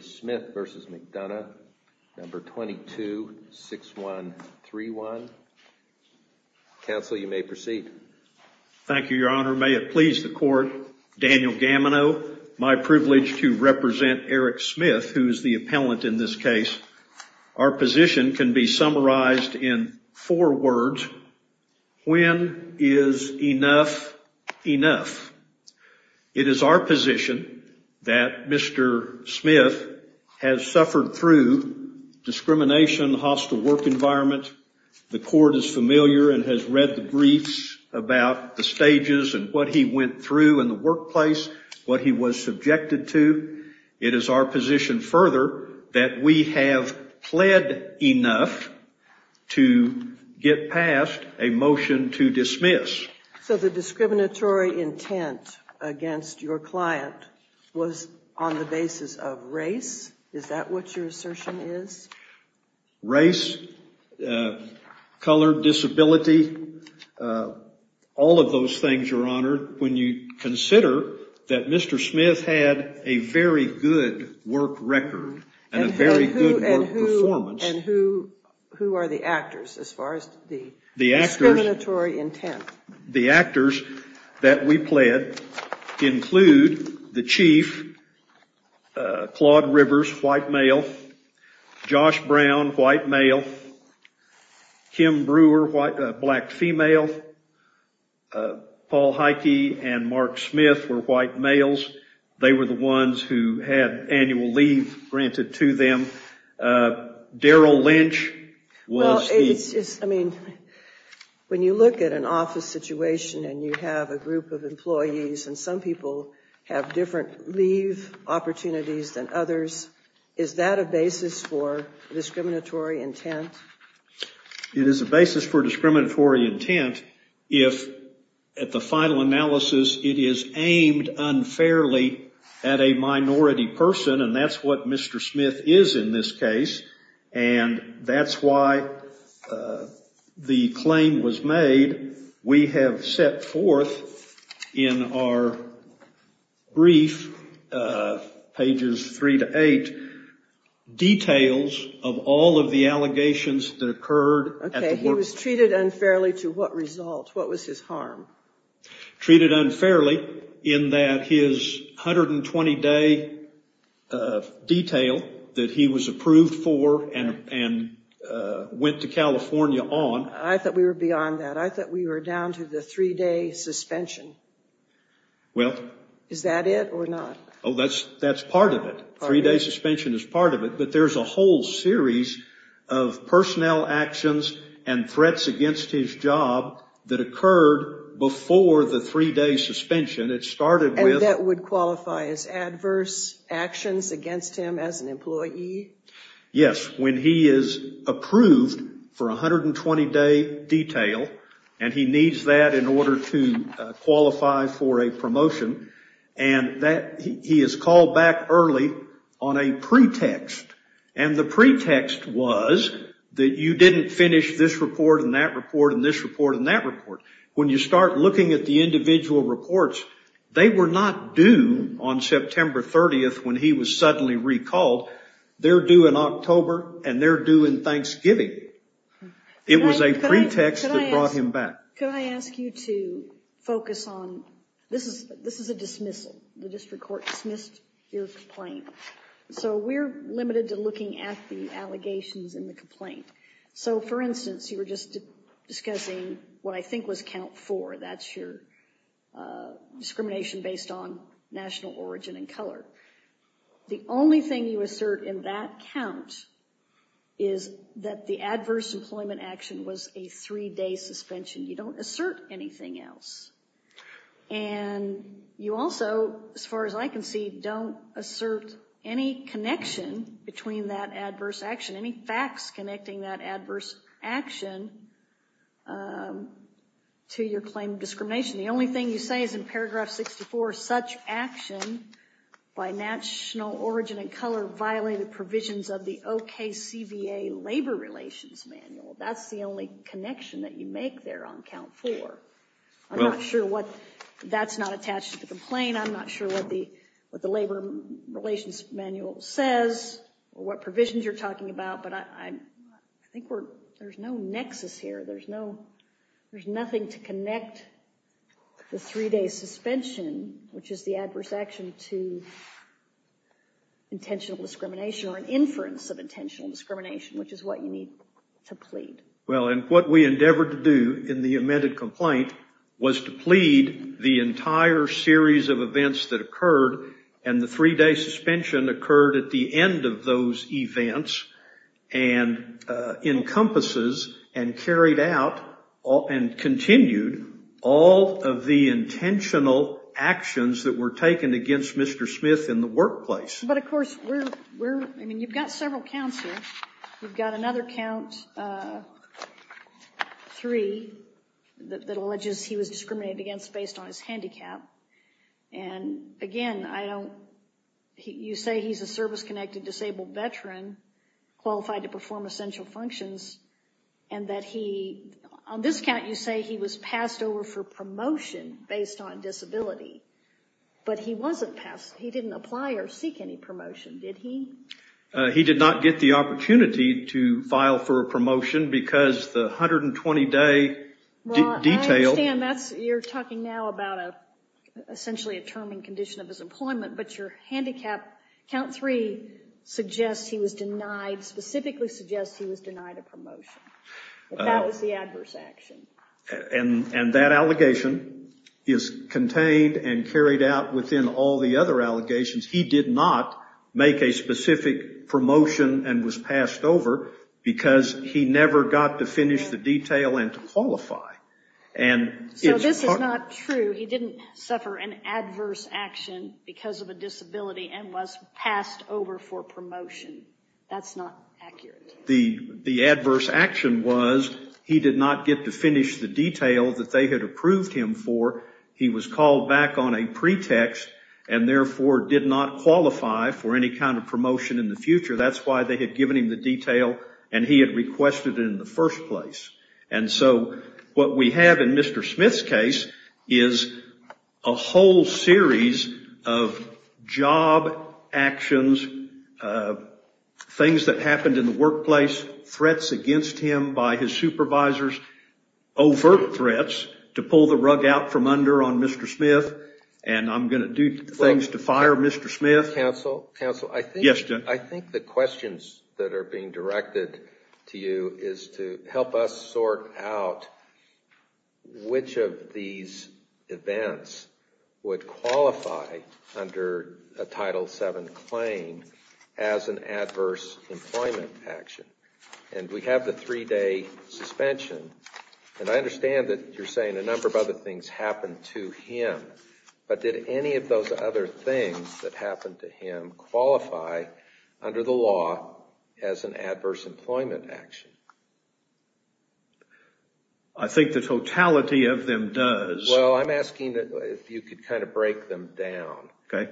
Smith v. McDonough 22-6131 Thank you, Your Honor. May it please the Court, Daniel Gamano, my privilege to represent Eric Case. Our position can be summarized in four words. When is enough enough? It is our position that Mr. Smith has suffered through discrimination, hostile work environment. The Court is familiar and has read the briefs about the stages and what he went through in the workplace, what he was subjected to. It is our position further that we have pled enough to get past a motion to dismiss. So the discriminatory intent against your client was on the basis of race? Is that what your assertion is? Race, color, disability, all of those things, Your Honor. When you Mr. Smith had a very good work record and a very good work performance. And who are the actors as far as the discriminatory intent? The actors that we pled include the Chief, Claude Rivers, white male, Josh Brown, white male, Kim Brewer, black female, Paul Heike and Mark Smith were white males. They were the ones who had annual leave granted to them. Daryl Lynch was... I mean, when you look at an office situation and you have a group of employees and some people have different leave opportunities than others, is that a basis for discriminatory intent? It is a basis for discriminatory intent if at the final analysis it is aimed unfairly at a minority person and that's what Mr. Smith is in this case. And that's why the claim was made. We have set forth in our brief, pages three to eight, details of all of the allegations that occurred. Okay, he was treated unfairly to what result? What was his harm? Treated unfairly in that his 120-day detail that he was approved for and went to California on... I thought we were beyond that. I thought we were down to the three-day suspension. Well... Is that it or not? Oh, that's part of it. Three-day suspension is part of it, but there's a whole series of personnel actions and threats against his job that occurred before the three-day suspension. It started with... And that would qualify as adverse actions against him as an employee? Yes, when he is approved for a 120-day detail and he needs that in order to qualify for a promotion and he is called back early on a pretext. And the pretext was that you didn't finish this report and that report and this report and that report. When you start looking at the individual reports, they were not due on September 30th when he was suddenly recalled. They're due in October and they're due in Thanksgiving. It was a pretext that brought him back. Could I ask you to focus on... This is a dismissal. The district court dismissed your complaint. So we're limited to looking at the allegations in the complaint. So, for instance, you were just discussing what I think was count four. That's your discrimination based on national origin and color. The only thing you assert in that count is that the adverse employment action was a three-day suspension. You don't assert anything else. And you also, as far as I can see, don't assert any connection between that adverse action, any facts connecting that adverse action to your claim of discrimination. The only thing you say is in paragraph 64, such action by national origin and color violated provisions of the OKCVA labor relations manual. That's the only connection that you make there on count four. I'm not sure what... That's not attached to the complaint. I'm not sure what the labor relations manual says or what provisions you're talking about. But I think there's no nexus here. There's no... There's nothing to connect the three-day suspension, which is the adverse action, to intentional discrimination or an inference of intentional discrimination, which is what you need to plead. Well, and what we endeavored to do in the amended complaint was to plead the entire series of events that occurred. And the three-day suspension occurred at the end of those events and encompasses and carried out and continued all of the intentional actions that were taken against Mr. Smith in the workplace. But, of course, we're... I mean, you've got several counts here. You've got another count, three, that alleges he was discriminated against based on his handicap. And, again, I don't... You say he's a service-connected disabled veteran qualified to perform essential functions and that he... But he wasn't... He didn't apply or seek any promotion, did he? He did not get the opportunity to file for a promotion because the 120-day detail... Well, I understand that's... You're talking now about essentially a term and condition of his employment. But your handicap count three suggests he was denied... Specifically suggests he was denied a promotion. That was the adverse action. And that allegation is contained and carried out within all the other allegations. He did not make a specific promotion and was passed over because he never got to finish the detail and to qualify. And it's... So this is not true. He didn't suffer an adverse action because of a disability and was passed over for promotion. That's not accurate. The adverse action was he did not get to finish the detail that they had approved him for. He was called back on a pretext and, therefore, did not qualify for any kind of promotion in the future. That's why they had given him the detail and he had requested it in the first place. And so what we have in Mr. Smith's case is a whole series of job actions, things that happened in the workplace, threats against him by his supervisors, overt threats to pull the rug out from under on Mr. Smith. And I'm going to do things to fire Mr. Smith. Counsel, I think the questions that are being directed to you is to help us sort out which of these events would qualify under a Title VII claim as an adverse employment action. And we have the three-day suspension. And I understand that you're saying a number of other things happened to him. But did any of those other things that happened to him qualify under the law as an adverse employment action? I think the totality of them does. Well, I'm asking if you could kind of break them down. Okay.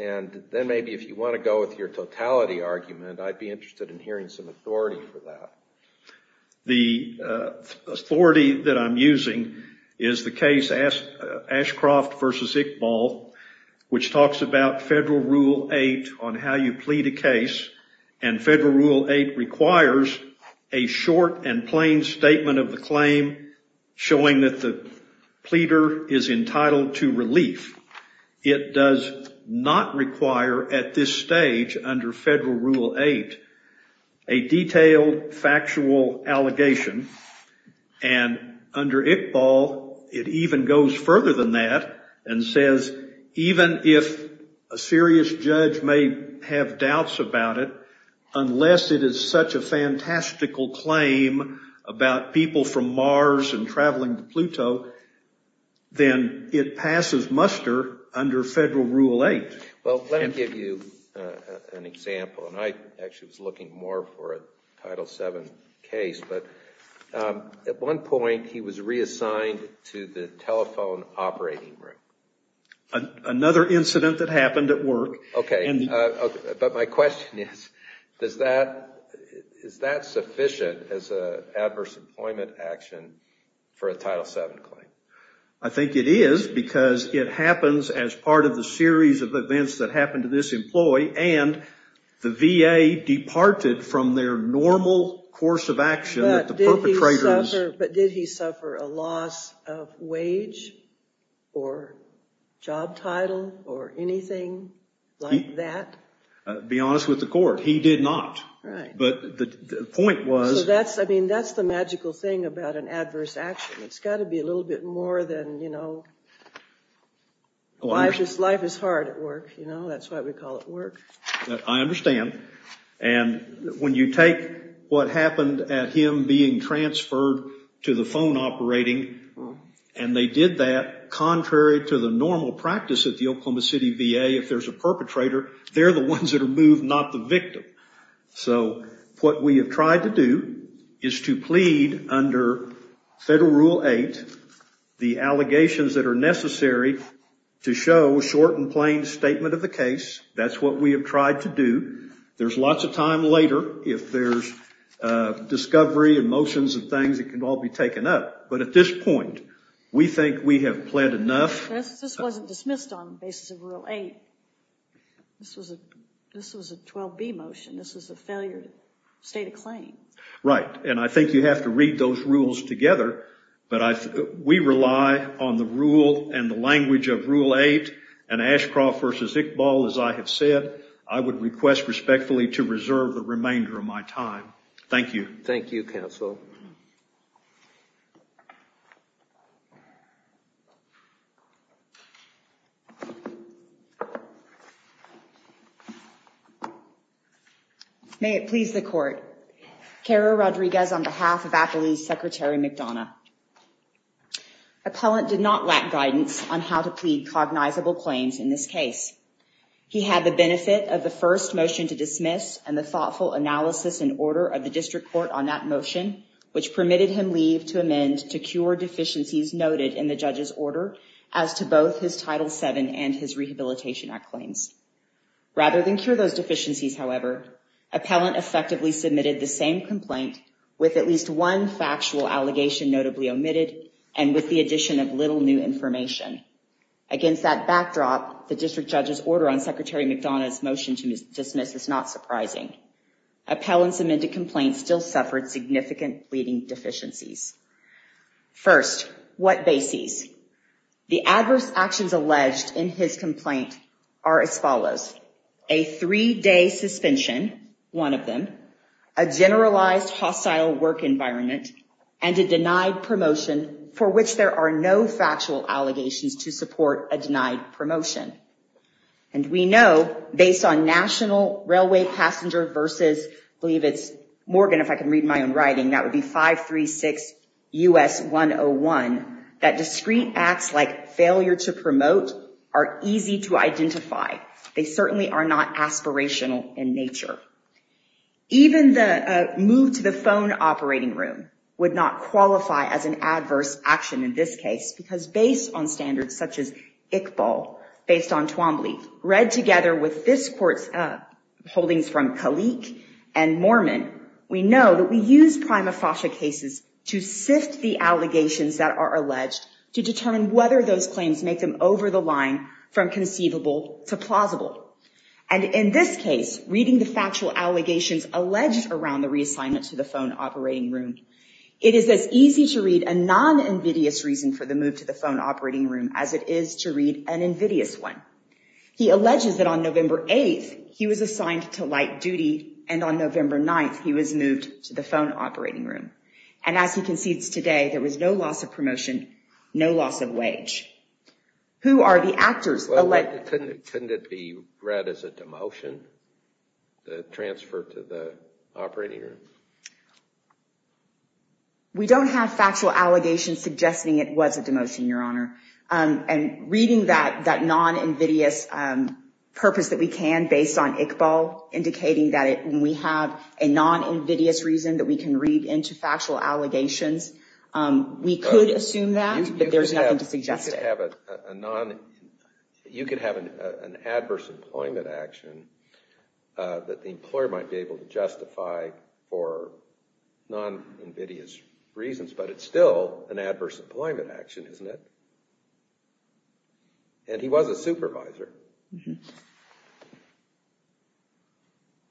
And then maybe if you want to go with your totality argument, I'd be interested in hearing some authority for that. The authority that I'm using is the case Ashcroft v. Iqbal, which talks about Federal Rule 8 on how you plead a case. And Federal Rule 8 requires a short and plain statement of the claim showing that the pleader is entitled to relief. It does not require at this stage under Federal Rule 8 a detailed factual allegation. And under Iqbal, it even goes further than that and says even if a serious judge may have doubts about it, unless it is such a fantastical claim about people from Mars and traveling to Pluto, then it passes muster under Federal Rule 8. Well, let me give you an example. And I actually was looking more for a Title VII case. But at one point, he was reassigned to the telephone operating room. Another incident that happened at work. Okay. But my question is, is that sufficient as an adverse employment action for a Title VII claim? I think it is because it happens as part of the series of events that happened to this employee. And the VA departed from their normal course of action. But did he suffer a loss of wage or job title or anything like that? To be honest with the court, he did not. Right. But the point was. So that's the magical thing about an adverse action. It's got to be a little bit more than, you know, life is hard at work. You know, that's why we call it work. I understand. And when you take what happened at him being transferred to the phone operating, and they did that contrary to the normal practice at the Oklahoma City VA, if there's a perpetrator, they're the ones that are moved, not the victim. So what we have tried to do is to plead under Federal Rule 8, the allegations that are necessary to show short and plain statement of the case. That's what we have tried to do. There's lots of time later if there's discovery and motions and things that can all be taken up. But at this point, we think we have pled enough. This wasn't dismissed on the basis of Rule 8. This was a 12B motion. This was a failure state of claim. Right. And I think you have to read those rules together. But we rely on the rule and the language of Rule 8 and Ashcroft v. Iqbal, as I have said, I would request respectfully to reserve the remainder of my time. Thank you. Thank you, Counsel. May it please the Court. Kara Rodriguez on behalf of Attlee's Secretary McDonough. Appellant did not lack guidance on how to plead cognizable claims in this case. He had the benefit of the first motion to dismiss and the thoughtful analysis and order of the District Court on that motion, which permitted him leave to amend to cure deficiencies noted in the judge's order as to both his Title VII and his Rehabilitation Act claims. Rather than cure those deficiencies, however, appellant effectively submitted the same complaint with at least one factual allegation notably omitted and with the addition of little new information. Against that backdrop, the District Judge's order on Secretary McDonough's motion to dismiss is not surprising. Appellant's amended complaint still suffered significant pleading deficiencies. First, what bases? The adverse actions alleged in his complaint are as follows. A three-day suspension, one of them. A generalized hostile work environment, and a denied promotion for which there are no factual allegations to support a denied promotion. And we know, based on National Railway Passenger versus, I believe it's Morgan if I can read my own writing, that would be 536 U.S. 101, that discreet acts like failure to promote are easy to identify. They certainly are not aspirational in nature. Even the move to the phone operating room would not qualify as an adverse action in this case because based on standards such as Iqbal, based on Twombly, read together with this court's holdings from Kalik and Mormon, we know that we use prima facie cases to sift the allegations that are alleged to determine whether those claims make them over the line from conceivable to plausible. And in this case, reading the factual allegations alleged around the reassignment to the phone operating room, it is as easy to read a non-invidious reason for the move to the phone operating room as it is to read an invidious one. He alleges that on November 8th, he was assigned to light duty, and on November 9th, he was moved to the phone operating room. And as he concedes today, there was no loss of promotion, no loss of wage. Who are the actors? Couldn't it be read as a demotion, the transfer to the operating room? We don't have factual allegations suggesting it was a demotion, Your Honor. And reading that non-invidious purpose that we can based on Iqbal, indicating that when we have a non-invidious reason that we can read into factual allegations, we could assume that, but there's nothing to suggest it. You could have an adverse employment action that the employer might be able to justify for non-invidious reasons, but it's still an adverse employment action, isn't it? And he was a supervisor.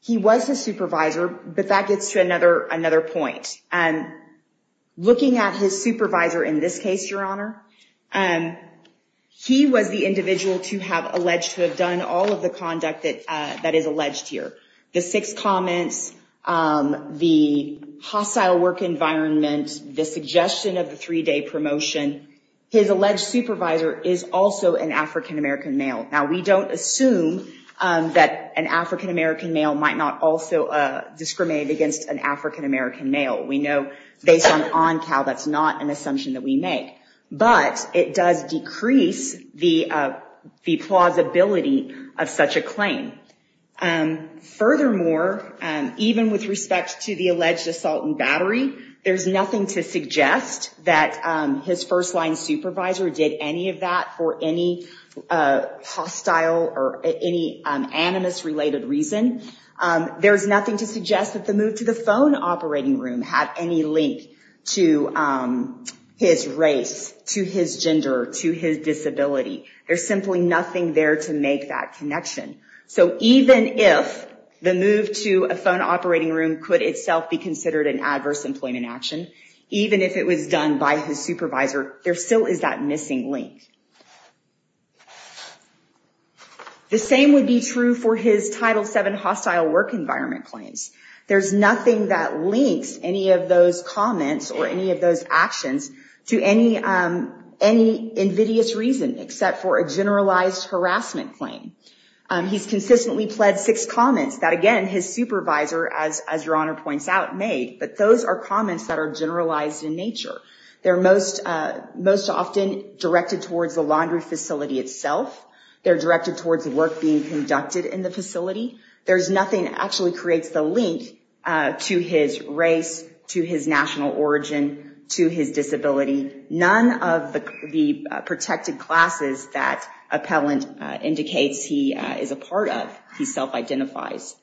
He was a supervisor, but that gets to another point. Looking at his supervisor in this case, Your Honor, he was the individual to have alleged to have done all of the conduct that is alleged here. The six comments, the hostile work environment, the suggestion of the three-day promotion, his alleged supervisor is also an African-American male. Now, we don't assume that an African-American male might not also discriminate against an African-American male. We know based on ONCAL that's not an assumption that we make, but it does decrease the plausibility of such a claim. Furthermore, even with respect to the alleged assault and battery, there's nothing to suggest that his first-line supervisor did any of that for any hostile or any animus-related reason. There's nothing to suggest that the move to the phone operating room had any link to his race, to his gender, to his disability. There's simply nothing there to make that connection. So even if the move to a phone operating room could itself be considered an adverse employment action, even if it was done by his supervisor, there still is that missing link. The same would be true for his Title VII hostile work environment claims. There's nothing that links any of those comments or any of those actions to any invidious reason except for a generalized harassment claim. He's consistently pled six comments that, again, his supervisor, as Your Honor points out, made, but those are comments that are generalized in nature. They're most often directed towards the laundry facility itself. They're directed towards work being conducted in the facility. There's nothing that actually creates the link to his race, to his national origin, to his disability. None of the protected classes that appellant indicates he is a part of, he self-identifies.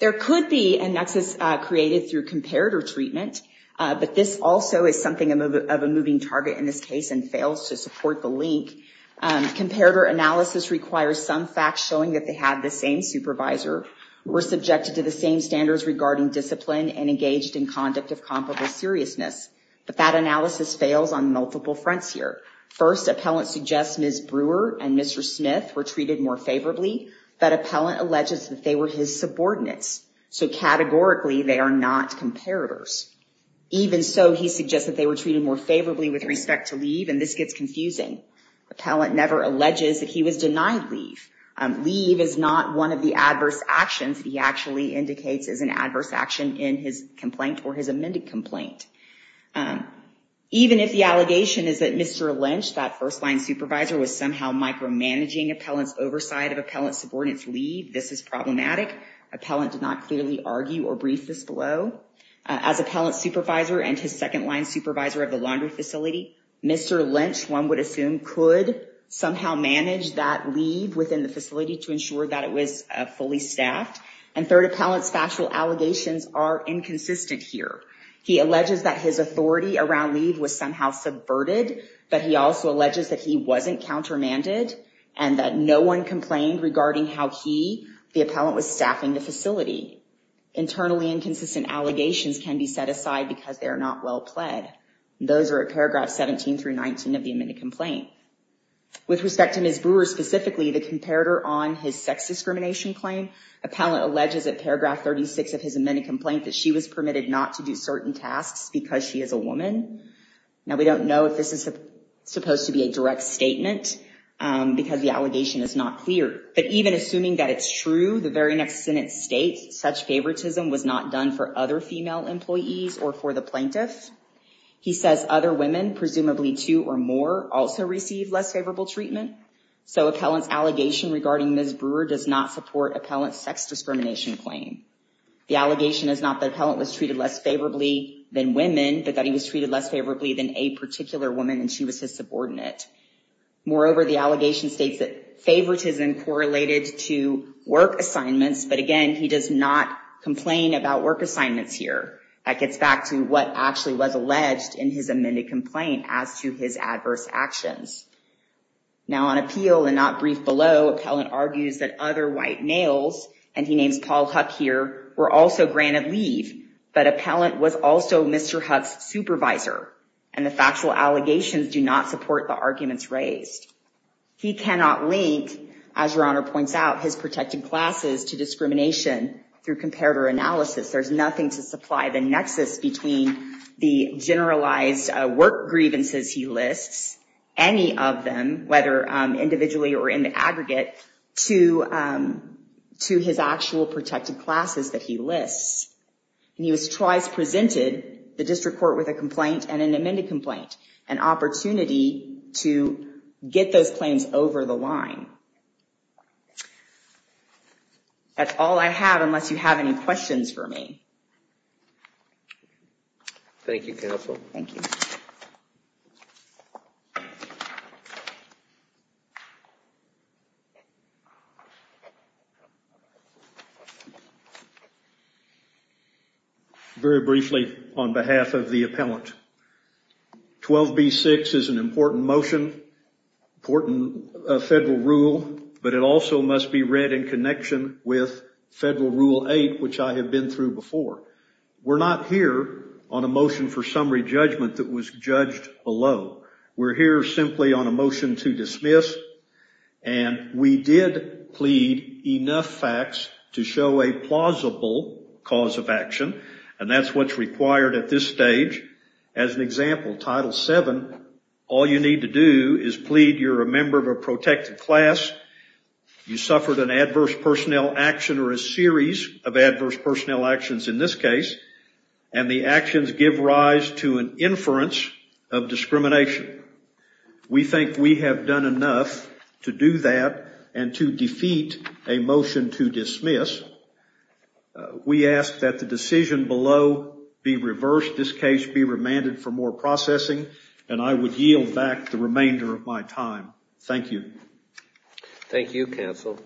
There could be a nexus created through comparator treatment, but this also is something of a moving target in this case and fails to support the link. Comparator analysis requires some facts showing that they have the same supervisor, were subjected to the same standards regarding discipline, and engaged in conduct of comparable seriousness, but that analysis fails on multiple fronts here. First, appellant suggests Ms. Brewer and Mr. Smith were treated more favorably, but appellant alleges that they were his subordinates, so categorically they are not comparators. Even so, he suggests that they were treated more favorably with respect to leave, and this gets confusing. Appellant never alleges that he was denied leave. Leave is not one of the adverse actions that he actually indicates is an adverse action in his complaint or his amended complaint. Even if the allegation is that Mr. Lynch, that first-line supervisor, was somehow micromanaging appellant's oversight of appellant's subordinate's leave, this is problematic. Appellant did not clearly argue or brief this below. As appellant's supervisor and his second-line supervisor of the laundry facility, Mr. Lynch, one would assume, could somehow manage that leave within the facility to ensure that it was fully staffed. And third, appellant's factual allegations are inconsistent here. He alleges that his authority around leave was somehow subverted, but he also alleges that he wasn't countermanded, and that no one complained regarding how he, the appellant, was staffing the facility. Internally inconsistent allegations can be set aside because they are not well pled. Those are at paragraph 17 through 19 of the amended complaint. With respect to Ms. Brewer specifically, the comparator on his sex discrimination claim, appellant alleges at paragraph 36 of his amended complaint that she was permitted not to do certain tasks because she is a woman. Now we don't know if this is supposed to be a direct statement, because the allegation is not clear. But even assuming that it's true, the very next sentence states, such favoritism was not done for other female employees or for the plaintiff. He says other women, presumably two or more, also received less favorable treatment. So appellant's allegation regarding Ms. Brewer does not support appellant's sex discrimination claim. The allegation is not that appellant was treated less favorably than women, but that he was treated less favorably than a particular woman and she was his subordinate. Moreover, the allegation states that favoritism correlated to work assignments. But again, he does not complain about work assignments here. That gets back to what actually was alleged in his amended complaint as to his adverse actions. Now on appeal and not briefed below, appellant argues that other white males, and he names Paul Huck here, were also granted leave. But appellant was also Mr. Huck's supervisor. And the factual allegations do not support the arguments raised. He cannot link, as Your Honor points out, his protected classes to discrimination through comparator analysis. There's nothing to supply the nexus between the generalized work grievances he lists, any of them, whether individually or in the aggregate, to his actual protected classes that he lists. And he was twice presented, the district court with a complaint and an amended complaint, an opportunity to get those claims over the line. That's all I have, unless you have any questions for me. Thank you, counsel. Thank you. Very briefly on behalf of the appellant. 12B-6 is an important motion, important federal rule, but it also must be read in connection with Federal Rule 8, which I have been through before. We're not here on a motion for summary judgment that was judged below. We're here simply on a motion to dismiss, and we did plead enough facts to show a plausible cause of action, and that's what's required at this stage. As an example, Title VII, all you need to do is plead you're a member of a protected class, you suffered an adverse personnel action or a series of adverse personnel actions in this case, and the actions give rise to an inference of discrimination. We think we have done enough to do that and to defeat a motion to dismiss. We ask that the decision below be reversed, this case be remanded for more processing, and I would yield back the remainder of my time. Thank you. Thank you, counsel.